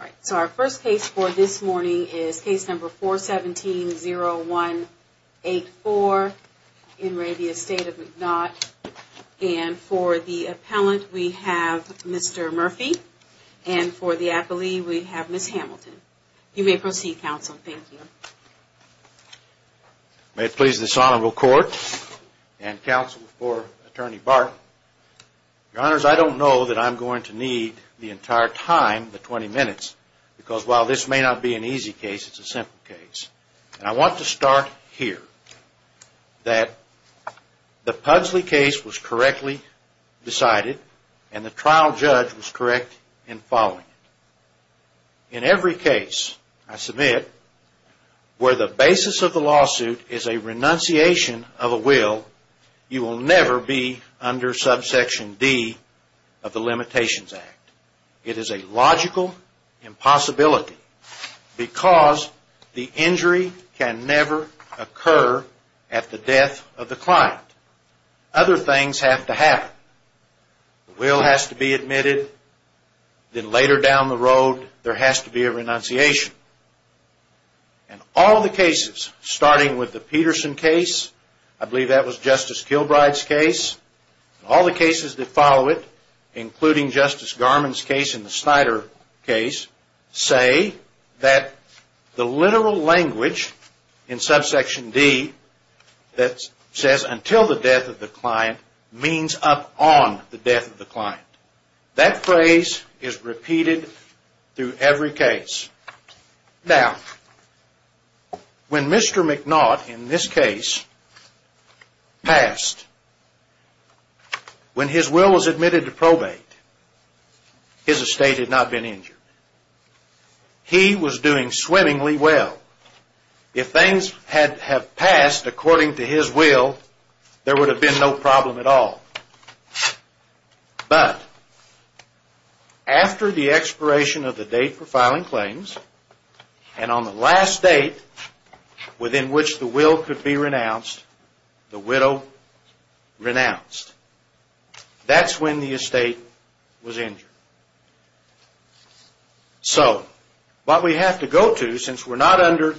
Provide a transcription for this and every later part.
All right, so our first case for this morning is case number 417-0184 in Reavia Estate of McNaught. And for the appellant we have Mr. Murphy and for the appellee we have Ms. Hamilton. You may proceed counsel, thank you. May it please this honorable court and counsel for attorney Barton. Your honors, I don't know that I'm going to need the entire time, the 20 minutes, because while this may not be an easy case, it's a simple case. And I want to start here, that the Pugsley case was correctly decided and the trial judge was correct in following it. In every case I submit where the basis of the lawsuit is a renunciation of a will, you will never be under subsection D of the Limitations Act. It is a logical impossibility because the injury can never occur at the death of the client. Other things have to happen. The will has to be admitted, then later down the road there has to be a renunciation. And all the cases, starting with the Peterson case, I believe that was Justice Kilbride's case, all the cases that follow it, including Justice Garmon's case and the Snyder case, say that the literal language in subsection D that says until the death of the client means up on the death of the client. That phrase is repeated through every case. Now, when Mr. McNaught, in this case, passed, when his will was admitted to probate, his estate had not been injured. He was doing swimmingly well. If things had passed according to his will, there would have been no problem at all. But, after the expiration of the date for filing claims and on the last date within which the will could be renounced, the widow renounced. That's when the estate was injured. So, what we have to go to, since we're not under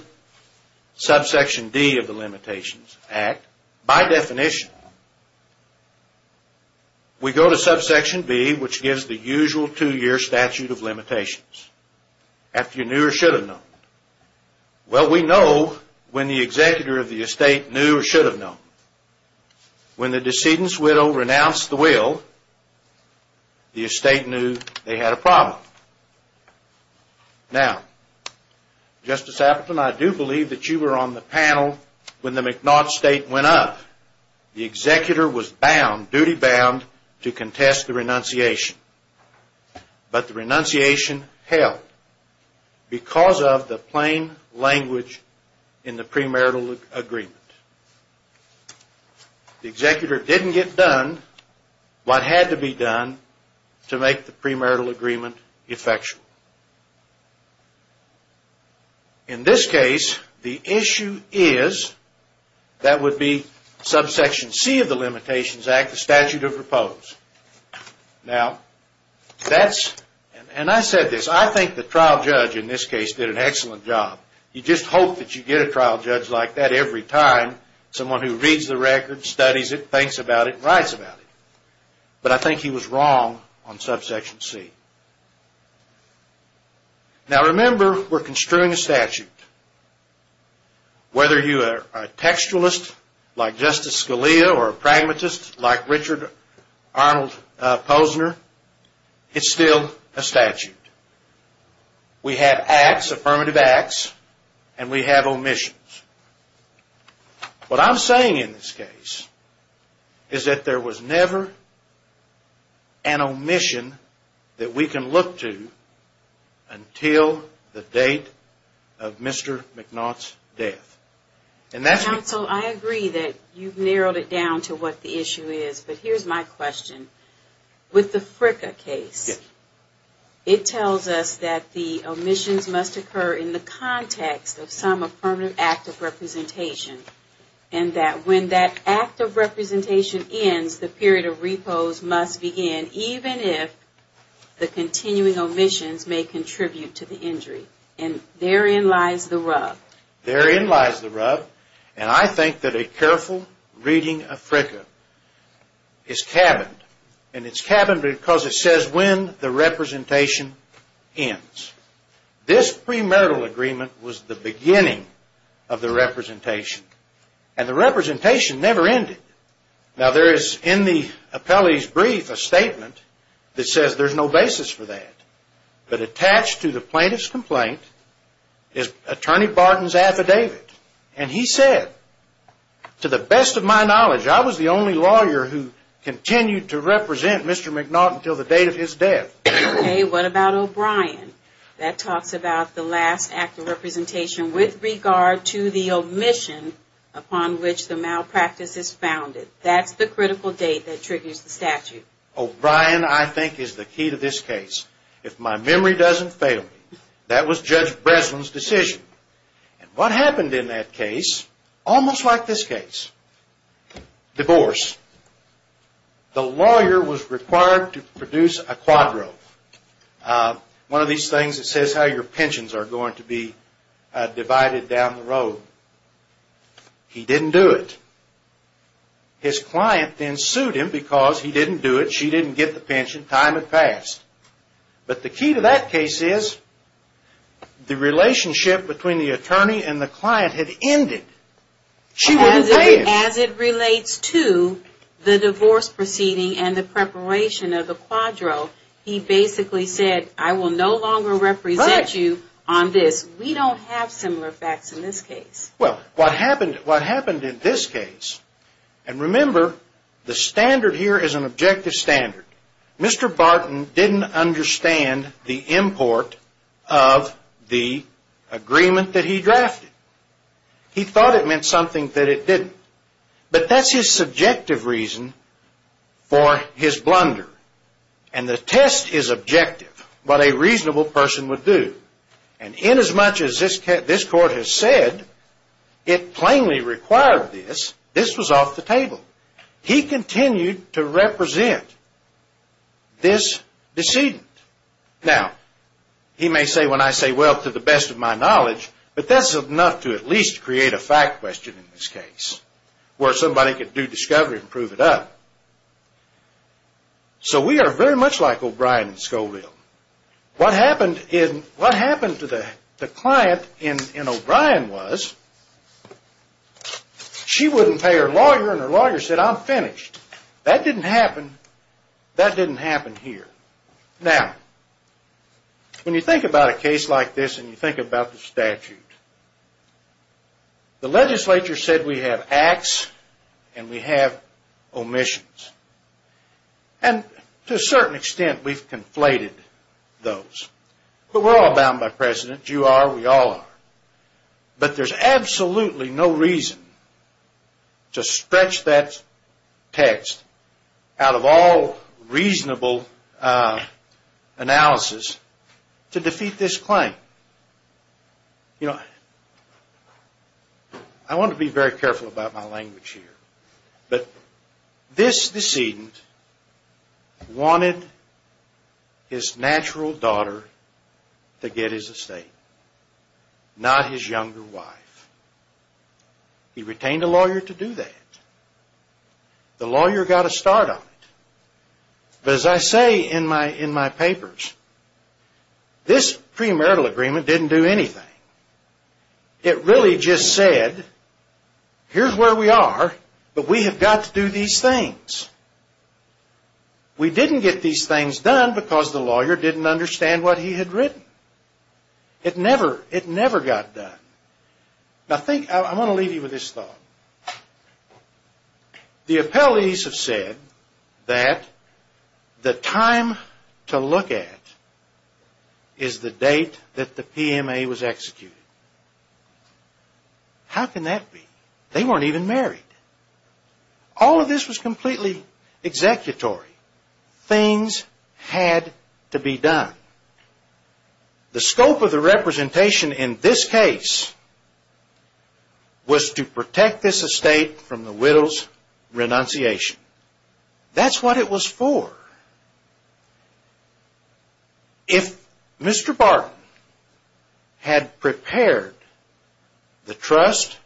subsection D of the Limitations Act, by definition, we go to subsection B, which gives the usual two-year statute of limitations, after you knew or should have known. Well, we know when the executor of the estate knew or should have known. When the decedent's widow renounced the will, the estate knew they had a problem. Now, Justice Appleton, I do believe that you were on the panel when the McNaught State went up. The executor was bound, duty bound, to contest the renunciation. But the renunciation held because of the plain language in the premarital agreement. The executor didn't get done what had to be done to make the premarital agreement effectual. In this case, the issue is, that would be subsection C of the Limitations Act, the statute of repose. Now, that's, and I said this, I think the trial judge in this case did an excellent job. You just hope that you get a trial judge like that every time, someone who reads the record, studies it, thinks about it, and writes about it. But I think he was wrong on subsection C. Now, remember, we're construing a statute. Whether you are a textualist, like Justice Scalia, or a pragmatist, like Richard Arnold Posner, it's still a statute. We have acts, affirmative acts, and we have omissions. What I'm saying in this case is that there was never an omission that we can look to until the date of Mr. McNaught's death. Counsel, I agree that you've narrowed it down to what the issue is, but here's my question. With the Fricka case, it tells us that the omissions must occur in the context of some affirmative act of representation, and that when that act of representation ends, the period of repose must begin, even if the continuing omissions may contribute to the injury. And therein lies the rub. Therein lies the rub. And I think that a careful reading of Fricka is cabined. And it's cabined because it says when the representation ends. This premarital agreement was the beginning of the representation. And the representation never ended. Now, there is, in the appellee's brief, a statement that says there's no basis for that. But attached to the plaintiff's complaint is Attorney Barton's affidavit. And he said, to the best of my knowledge, I was the only lawyer who continued to represent Mr. McNaught until the date of his death. Okay, what about O'Brien? That talks about the last act of representation with regard to the omission upon which the malpractice is founded. That's the critical date that triggers the statute. O'Brien, I think, is the key to this case. If my memory doesn't fail me, that was Judge Breslin's decision. And what happened in that case, almost like this case? Divorce. The lawyer was required to produce a quadro. One of these things that says how your pensions are going to be divided down the road. He didn't do it. His client then sued him because he didn't do it, she didn't get the pension, time had passed. But the key to that case is, the relationship between the attorney and the client had ended. She wouldn't pay him. As it relates to the divorce proceeding and the preparation of the quadro, he basically said, I will no longer represent you on this. We don't have similar facts in this case. Well, what happened in this case, and remember, the standard here is an objective standard. Mr. Barton didn't understand the import of the agreement that he drafted. He thought it meant something that it didn't. But that's his subjective reason for his blunder. And the test is objective, what a reasonable person would do. And inasmuch as this court has said it plainly required this, this was off the table. He continued to represent this decedent. Now, he may say when I say, well, to the best of my knowledge, but that's enough to at least create a fact question in this case, where somebody could do discovery and prove it up. So we are very much like O'Brien and Scoville. What happened to the client in O'Brien was, she wouldn't pay her lawyer and her lawyer said, I'm finished. That didn't happen. That didn't happen here. Now, when you think about a case like this and you think about the statute, the legislature said we have acts and we have omissions. And to a certain extent, we've conflated those. But we're all bound by precedent. You are, we all are. But there's absolutely no reason to stretch that text out of all reasonable analysis to defeat this claim. You know, I want to be very careful about my language here. But this decedent wanted his natural daughter to get his estate. Not his younger wife. He retained a lawyer to do that. The lawyer got a start on it. But as I say in my papers, this pre-marital agreement didn't do anything. It really just said, here's where we are, but we have got to do these things. We didn't get these things done because the lawyer didn't understand what he had written. It never, it never got done. Now think, I want to leave you with this thought. The appellees have said that the time to look at is the date that the PMA was executed. How can that be? They weren't even married. All of this was completely executory. Things had to be done. The scope of the representation in this case was to protect this estate from the widow's renunciation. That's what it was for. If Mr. Barton had prepared the trust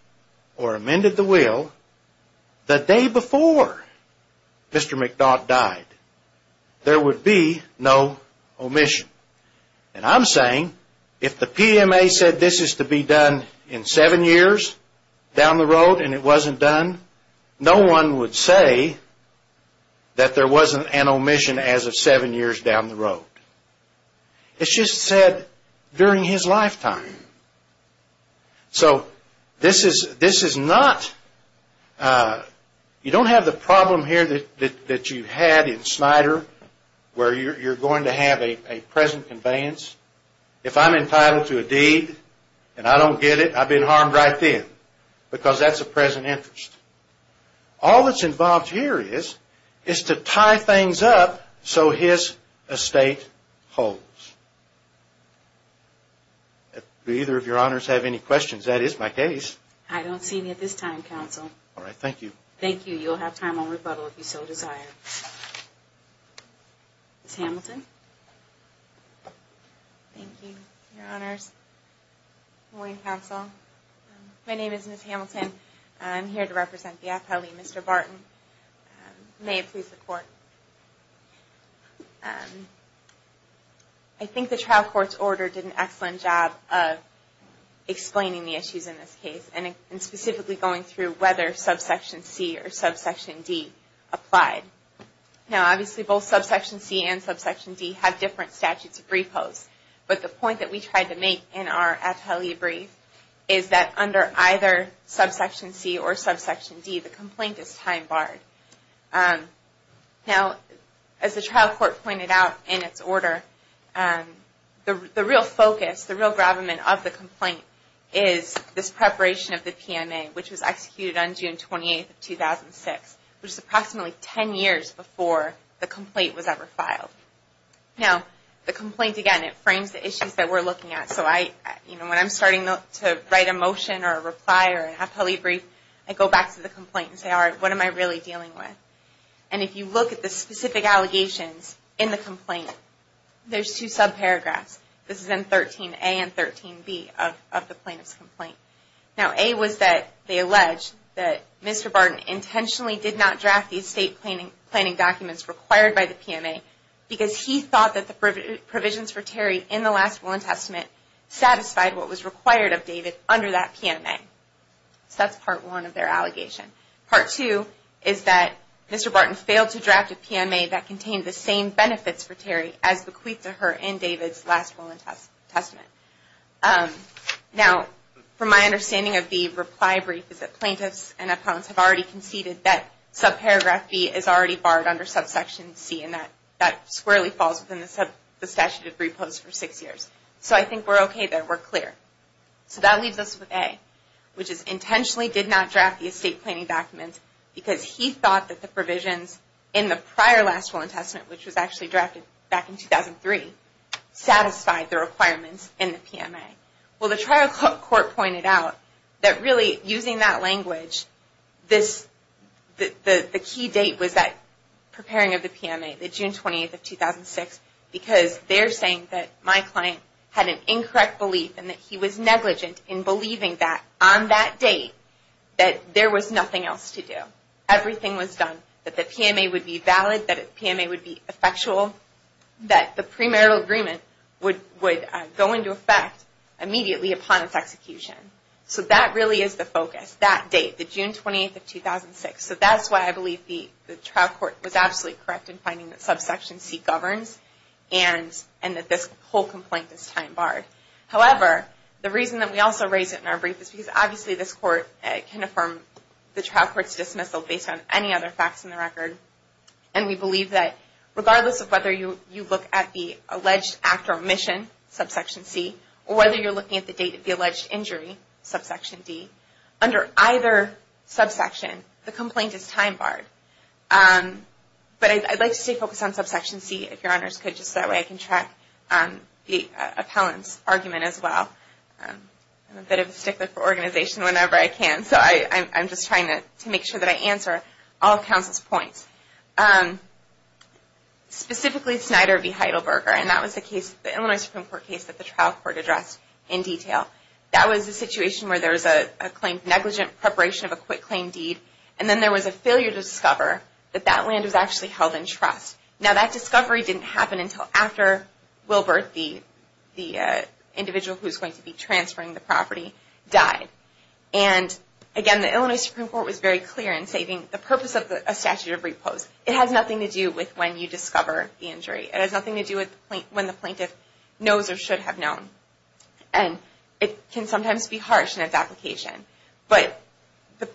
or amended the will the day before Mr. McDodd died, there would be no omission. And I'm saying, if the PMA said this is to be done in seven years down the road and it wasn't done, no one would say that there wasn't an omission as of seven years down the road. It's just said during his lifetime. So, this is not, you don't have the problem here that you had in Snyder, where you're going to have a present conveyance. If I'm entitled to a deed and I don't get it, I've been harmed right then. Because that's a present interest. All that's involved here is, is to tie things up so his estate holds. Do either of your honors have any questions? That is my case. I don't see any at this time, counsel. All right, thank you. Thank you. You'll have time on rebuttal if you so desire. Ms. Hamilton. Thank you, your honors. Good morning, counsel. My name is Ms. Hamilton. May it please the court. I think the trial court's order did an excellent job of explaining the issues in this case and specifically going through whether subsection C or subsection D applied. Now, obviously, both subsection C and subsection D have different statutes of repose. But the point that we tried to make in our atelier brief is that under either subsection C or subsection D, the complaint is time barred. Now, as the trial court pointed out in its order, the real focus, the real gravamen of the complaint is this preparation of the PMA, which was executed on June 28, 2006, which is approximately 10 years before the complaint was ever filed. Now, the complaint, again, it frames the issues that we're looking at. So I, you know, when I'm starting to write a motion or a reply or an atelier brief, I go back to the complaint and say, all right, what am I really dealing with? And if you look at the specific allegations in the complaint, there's two subparagraphs. This is in 13A and 13B of the plaintiff's complaint. Now, A was that they alleged that Mr. Barton intentionally did not draft the estate planning documents required by the PMA because he thought that the provisions for Terry in the last Will and Testament satisfied what was required of David under that PMA. So that's part one of their allegation. Part two is that Mr. Barton failed to draft a PMA that contained the same benefits for Terry as bequeathed to her in David's last Will and Testament. Now, from my understanding of the reply brief is that plaintiffs and appellants have already conceded that subparagraph B is already barred under subsection C and that squarely falls within the statute of repose for six years. So I think we're okay there. We're clear. So that leaves us with A, which is intentionally did not draft the estate planning documents because he thought that the provisions in the prior last Will and Testament, which was actually drafted back in 2003, satisfied the requirements in the PMA. Well, the trial court pointed out that really using that language, the key date was that preparing of the PMA, the June 28th of 2006, because they're saying that my client had an incorrect belief and that he was negligent in believing that on that date that there was nothing else to do. Everything was done, that the PMA would be valid, that the PMA would be effectual, that the premarital agreement would go into effect immediately upon its execution. So that really is the focus, that date, the June 28th of 2006. So that's why I believe the trial court was absolutely correct in finding that subsection C governs and that this whole complaint is time barred. However, the reason that we also raise it in our brief is because obviously this court can affirm the trial court's dismissal based on any other facts in the record. And we believe that regardless of whether you look at the alleged act or omission, subsection C, or whether you're looking at the date of the alleged injury, subsection D, under either subsection, the complaint is time barred. But I'd like to stay focused on subsection C, if your honors could, just that way I can track the appellant's argument as well. I'm a bit of a stickler for organization whenever I can, so I'm just trying to make sure that I answer all counsel's points. Specifically Snyder v. Heidelberger, and that was the case, the Illinois Supreme Court case that the trial court addressed in detail. That was a situation where there was a negligent preparation of a quick claim deed, and then there was a failure to discover that that land was actually held in trust. Now that discovery didn't happen until after Wilbert, the individual who's going to be transferring the property, died. And again, the Illinois Supreme Court was very clear in stating the purpose of a statute of repose. It has nothing to do with when you discover the injury. It has nothing to do with when the plaintiff knows or should have known. And it can sometimes be harsh in its application. But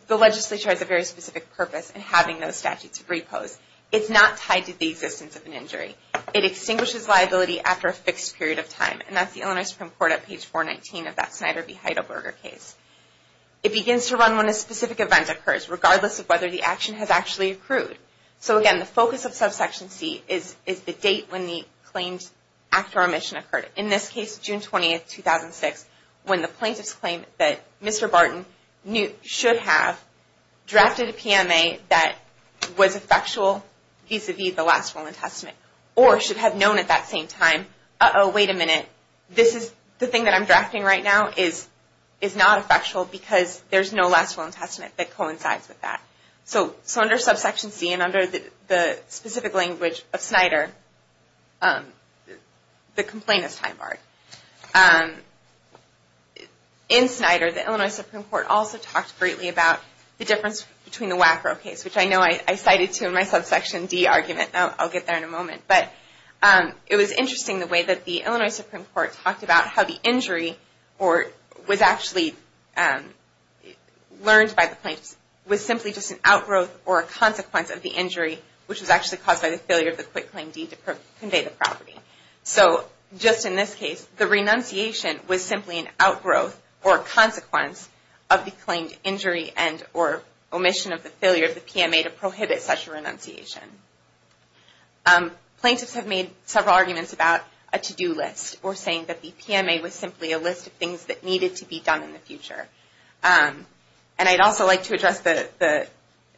the legislature has a very specific purpose in having those statutes of repose. It's not tied to the existence of an injury. It extinguishes liability after a fixed period of time, and that's the Illinois Supreme Court at page 419 of that Snyder v. Heidelberger case. It begins to run when a specific event occurs, regardless of whether the action has actually accrued. So again, the focus of subsection C is the date when the claimed act or omission occurred. In this case, June 20, 2006, when the plaintiff's claim that Mr. Barton should have drafted a PMA that was effectual vis-a-vis the Last Will and Testament, or should have known at that same time, uh-oh, wait a minute, the thing that I'm drafting right now is not effectual because there's no Last Will and Testament that coincides with that. So under subsection C, and under the specific language of Snyder, the complaint is time-barred. In Snyder, the Illinois Supreme Court also talked greatly about the difference between the WACRO case, which I know I cited to in my subsection D argument. I'll get there in a moment. It was interesting the way that the Illinois Supreme Court talked about how the injury was actually learned by the plaintiffs was simply just an outgrowth or a consequence of the injury which was actually caused by the failure of the quick claim D to convey the property. So just in this case, the renunciation was simply an outgrowth or consequence of the claimed injury and or omission of the failure of the PMA to prohibit such a renunciation. Plaintiffs have made several arguments about a to-do list, or saying that the PMA was simply a list of things that needed to be done in the future. And I'd also like to address the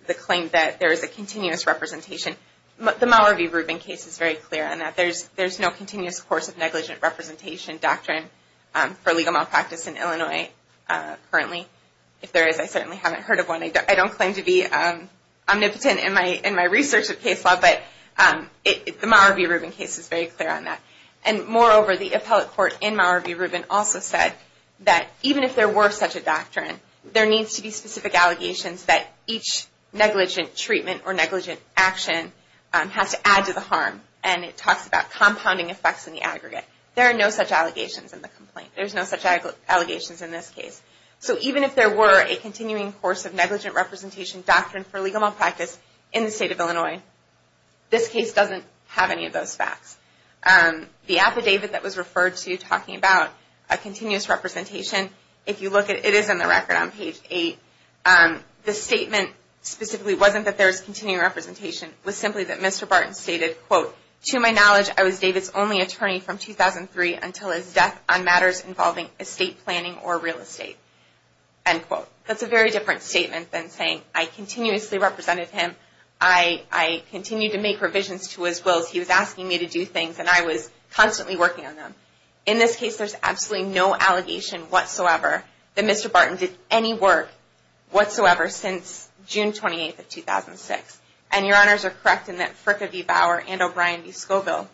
claim that there is a continuous representation. The Mowerby-Rubin case is very clear on that. There's no continuous course of negligent representation doctrine for legal malpractice in Illinois currently. If there is, I certainly haven't heard of one. I don't claim to be omnipotent in my research of case law, but the Mowerby-Rubin case is very clear on that. And moreover, the appellate court in Mowerby-Rubin also said that even if there were such a doctrine, there needs to be specific allegations that each negligent treatment or negligent action has to add to the harm. And it talks about compounding effects in the aggregate. There are no such allegations in the complaint. There's no such allegations in this case. So even if there were a continuing course of negligent representation doctrine for legal malpractice in the state of Illinois, this case doesn't have any of those facts. The affidavit that was referred to talking about a continuous representation, if you look at it, it is in the record on page 8. The statement specifically wasn't that there was continuing representation. It was simply that Mr. Barton stated quote, to my knowledge, I was David's only attorney from 2003 until his death on matters involving estate planning or real estate. End quote. That's a very different statement than saying I continuously represented him. I continued to make revisions to his wills. He was asking me to do things and I was constantly working on them. In this case, there's absolutely no allegation whatsoever that Mr. Barton did any work whatsoever since June 28, 2006. And your honors are correct in that Fricka v. Bauer and O'Brien v. Scoville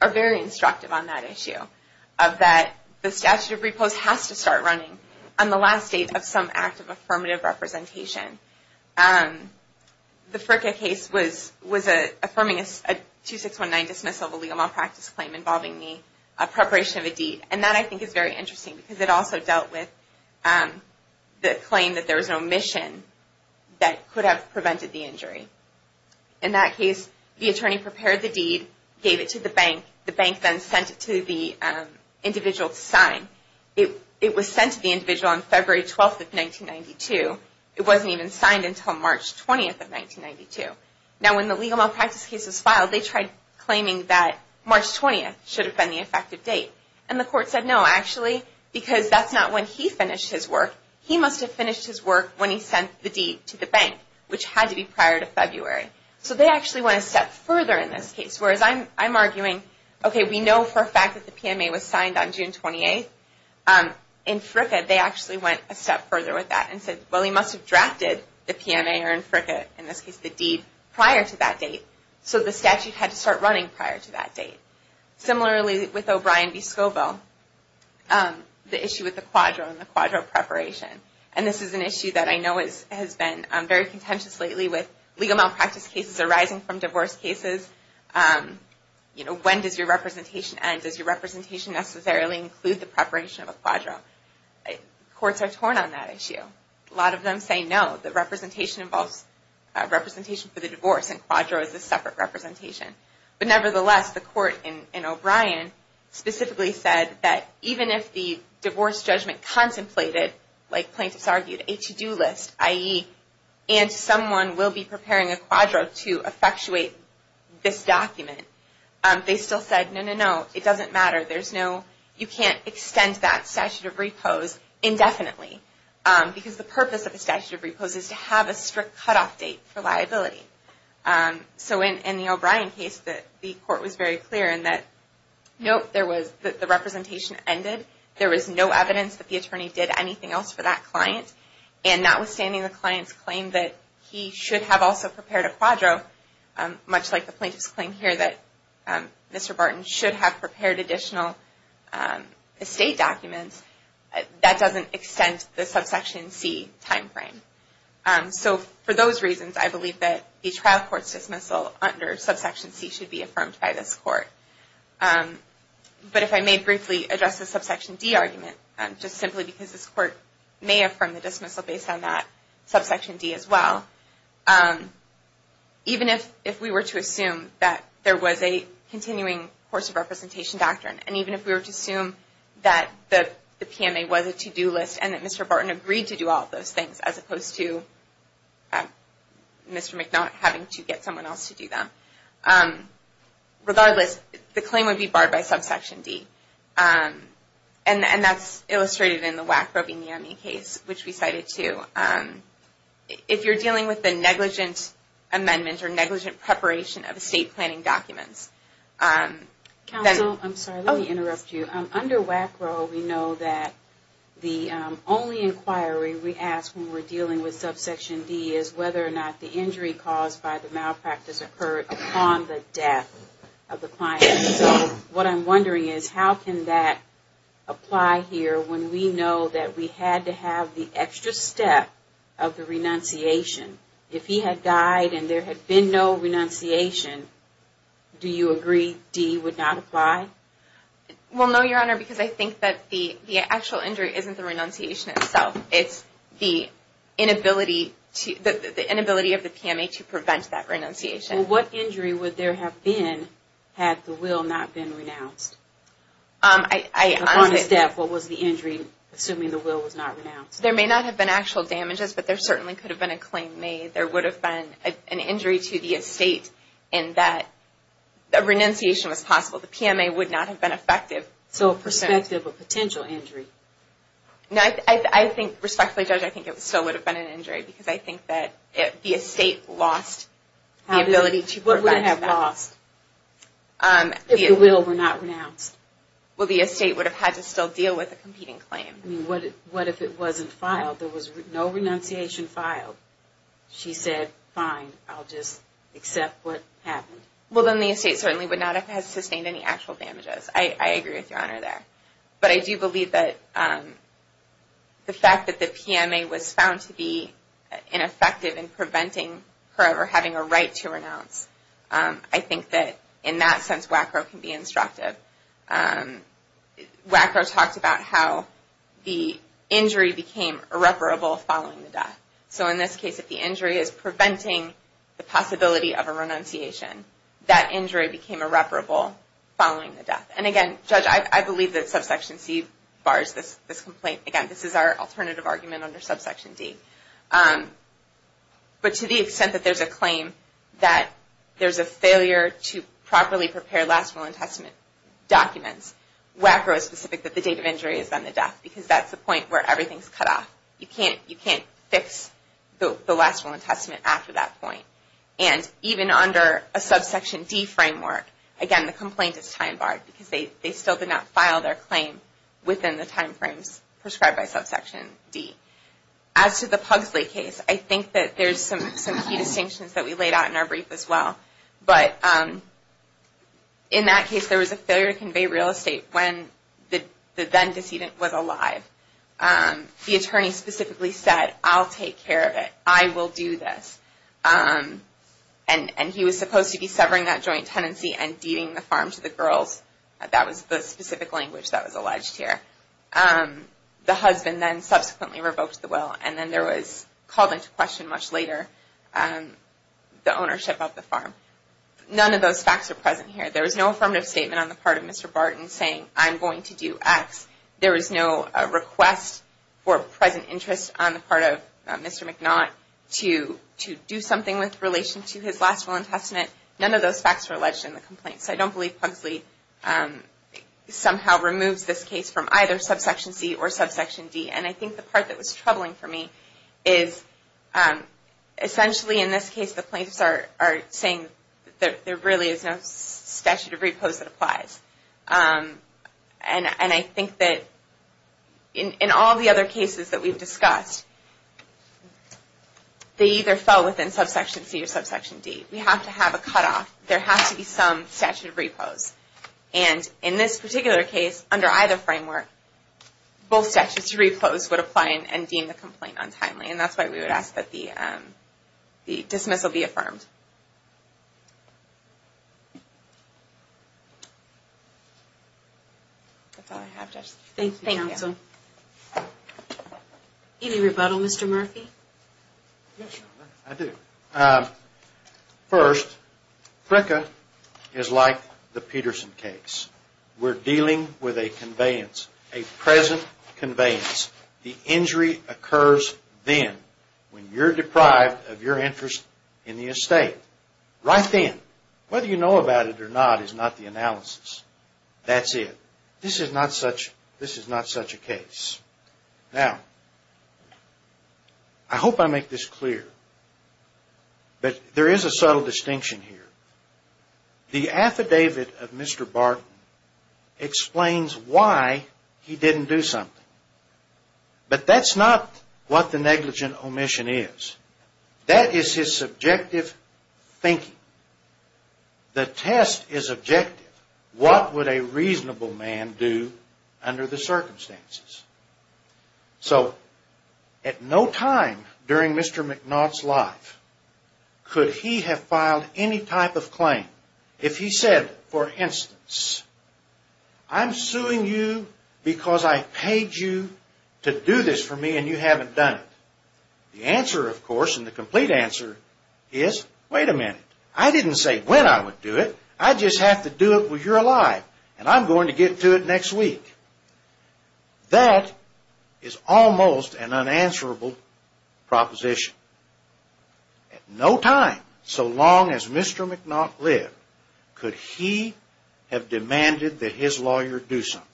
are very instructive on that issue of that the statute of repose has to start running on the last date of some act of affirmative representation. The Fricka case was affirming a 2619 dismissal of a legal malpractice claim involving the preparation of a deed. And that I think is very interesting because it also dealt with the claim that there was no mission that could have prevented the injury. In that case, the attorney prepared the deed, gave it to the bank. The bank then sent it to the individual to sign. It was sent to the individual on February 12, 1992. It wasn't even signed until March 20, 1992. Now when the legal malpractice case was filed, they tried claiming that March 20 should have been the effective date. And the court said no, actually because that's not when he finished his work. He must have finished his work when he sent the deed to the bank, which had to be prior to February. So they actually went a step further in this case. Whereas I'm arguing, okay, we know for a fact that the PMA was signed on June 28. In Fricka, they actually went a step further with that and said, well, he must have drafted the PMA or in Fricka, in this case the deed, prior to that date. So the statute had to start running prior to that date. Similarly with O'Brien v. O'Brien, the issue with the quadro and the quadro preparation. And this is an issue that I know has been very contentious lately with legal malpractice cases arising from divorce cases. You know, when does your representation end? Does your representation necessarily include the preparation of a quadro? Courts are torn on that issue. A lot of them say no. The representation involves representation for the divorce and quadro is a separate representation. But nevertheless, the court in O'Brien specifically said that even if the divorce judgment contemplated like plaintiffs argued, a to-do list, i.e. and someone will be preparing a quadro to effectuate this document, they still said no, no, no. It doesn't matter. You can't extend that statute of repose indefinitely. Because the purpose of a statute of repose is to have a strict cutoff date for liability. So in the O'Brien case, the court was very clear in that, nope, the representation ended. There was no evidence that the attorney did anything else for that client. And notwithstanding the client's claim that he should have also prepared a quadro, much like the plaintiff's claim here that Mr. Barton should have prepared additional estate documents, that doesn't extend the subsection C timeframe. So for those reasons, I believe that the trial court's dismissal under this court, but if I may briefly address the subsection D argument, just simply because this court may affirm the dismissal based on that subsection D as well, even if we were to assume that there was a continuing course of representation doctrine, and even if we were to assume that the PMA was a to-do list and that Mr. Barton agreed to do all of those things as opposed to Mr. McNaught having to get someone else to do them, regardless, the claim would be barred by subsection D. And that's illustrated in the Wackrow v. Miami case, which we cited too. If you're dealing with a negligent amendment or negligent preparation of estate planning documents, then... Under Wackrow, we know that the only inquiry we ask when we're dealing with subsection D is whether or not the injury caused by the death of the client. So what I'm wondering is how can that apply here when we know that we had to have the extra step of the renunciation? If he had died and there had been no renunciation, do you agree D would not apply? Well, no, Your Honor, because I think that the actual injury isn't the renunciation itself. It's the inability of the PMA to prevent that renunciation. Well, what injury would there have been had the will not been renounced? Upon the staff, what was the injury, assuming the will was not renounced? There may not have been actual damages, but there certainly could have been a claim made. There would have been an injury to the estate in that a renunciation was possible. The PMA would not have been effective. So a perspective of potential injury? No, I think, respectfully, Judge, I think it still would have been an injury because I think that the estate lost the ability to prevent that. If the will were not renounced? Well, the estate would have had to still deal with a competing claim. What if it wasn't filed? There was no renunciation filed. She said, fine, I'll just accept what happened. Well, then the estate certainly would not have sustained any actual damages. I agree with Your Honor there. But I do believe that the fact that the PMA was found to be ineffective in preventing her ever having a right to renounce, I think that in that sense WACRO can be instructive. WACRO talked about how the injury became irreparable following the death. So in this case, if the injury is preventing the possibility of a renunciation, that injury became irreparable following the death. And again, Judge, I believe that subsection C bars this complaint. Again, this is our alternative argument under subsection D. But to the extent that there's a claim that there's a failure to properly prepare Last Will and Testament documents, WACRO is specific that the date of injury is then the death because that's the point where everything is cut off. You can't fix the Last Will and Testament after that point. And even under a subsection D framework, again, the complaint is time barred because they still did not file their claim within the time frames prescribed by subsection D. As to the Pugsley case, I think that there's some key distinctions that we laid out in our brief as well. But in that case, there was a failure to convey real estate when the then decedent was alive. The attorney specifically said, I'll take care of it. I will do this. And he was supposed to be severing that joint tenancy and deeding the farm to the girls. That was the the husband then subsequently revoked the will. And then there was called into question much later the ownership of the farm. None of those facts are present here. There was no affirmative statement on the part of Mr. Barton saying, I'm going to do X. There was no request for present interest on the part of Mr. McNaught to do something with relation to his Last Will and Testament. None of those facts were alleged in the complaint. So I don't believe Pugsley somehow removes this case from either subsection C or subsection D. And I think the part that was troubling for me is essentially in this case, the plaintiffs are saying that there really is no statute of repose that applies. And I think that in all the other cases that we've discussed, they either fell within subsection C or subsection D. We have to have a cutoff. There has to be some statute of repose. And in this particular case under either framework, both statutes of repose would apply and deem the complaint untimely. And that's why we would ask that the dismissal be affirmed. That's all I have. Thank you, Counsel. Any rebuttal, Mr. Murphy? Yes, I do. First, PRCA is like the Peterson case. We're dealing with a conveyance. A present conveyance. The injury occurs then when you're deprived of your interest in the estate. Right then. Whether you know about it or not is not the analysis. That's it. This is not such a case. Now, I hope I make this clear, but there is a subtle distinction here. The affidavit of Mr. Barton explains why he didn't do something. But that's not what the negligent omission is. That is his subjective thinking. The test is objective. What would a reasonable man do under the circumstances? So, at no time during Mr. McNaught's life could he have filed any type of claim if he said, for instance, I'm suing you because I paid you to do this for me and you haven't done it. The answer, of course, and the complete answer is, wait a minute. I didn't say when I would do it. I just have to do it when you're alive and I'm going to get to it next week. That is almost an unanswerable proposition. At no time so long as Mr. McNaught lived could he have demanded that his lawyer do something.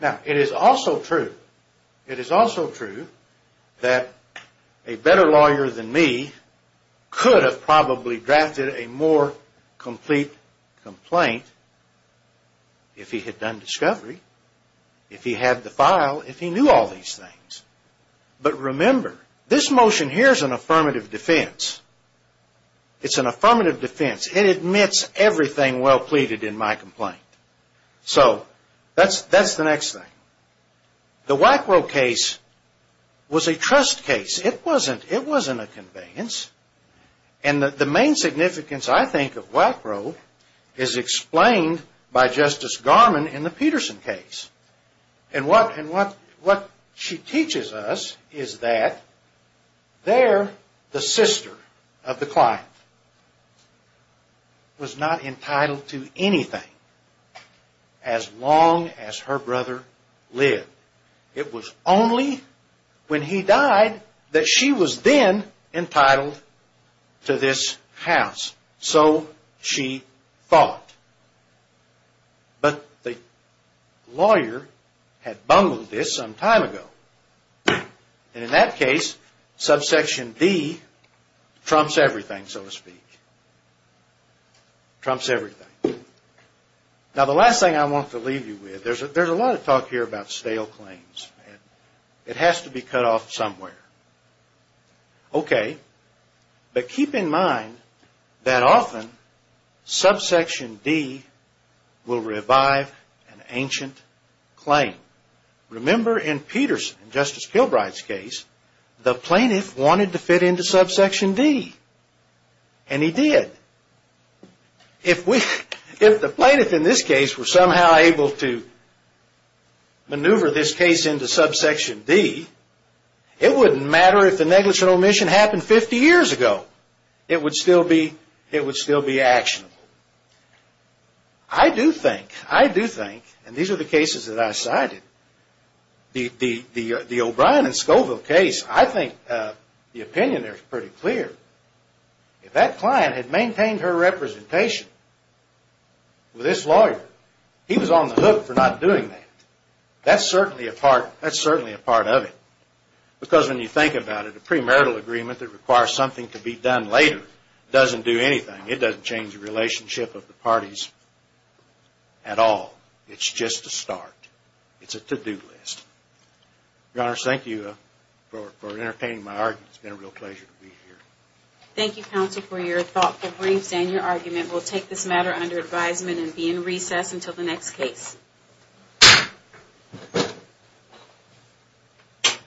Now, it is also true that a better lawyer than me could have probably drafted a more complete complaint if he had done discovery, if he had the file, if he knew all these things. But remember, this motion here is an affirmative defense. It's an affirmative defense. It admits everything well pleaded in my complaint. So, that's the next thing. The Wackrow case was a trust case. It wasn't a conveyance. And the main significance, I think, of Wackrow is explained by Justice Garman in the Peterson case. And what she teaches us is that there the sister of the client was not entitled to anything as long as her brother lived. It was only when he died that she was then entitled to this house. So she thought. But the lawyer had bungled this some time ago. And in that case subsection D trumps everything, so to speak. Trumps everything. Now, the last thing I want to leave you with, there's a lot of talk here about stale claims. It has to be cut off somewhere. Okay. But keep in mind that often subsection D will revive an ancient claim. Remember in Peterson, Justice Kilbride's case, the plaintiff wanted to fit into subsection D. And he did. If we if the plaintiff in this case were somehow able to maneuver this case into subsection D, it wouldn't matter if the negligent omission happened 50 years ago. It would still be actionable. I do think, I do think, and these are the cases that I cited, the O'Brien and Scoville case, I think the opinion there is pretty clear. If that client had maintained her representation with this lawyer, he was on the hook for not doing that. That's certainly a part of it. Because when you think about it, a premarital agreement that requires something to be done later doesn't do anything. It doesn't change the relationship of the parties at all. It's just a start. It's a to-do list. Your Honor, thank you for entertaining my argument. It's been a real pleasure to be here. Thank you counsel for your thoughtful briefs and your argument. We'll take this matter under advisement and be in recess until the next case. Thank you.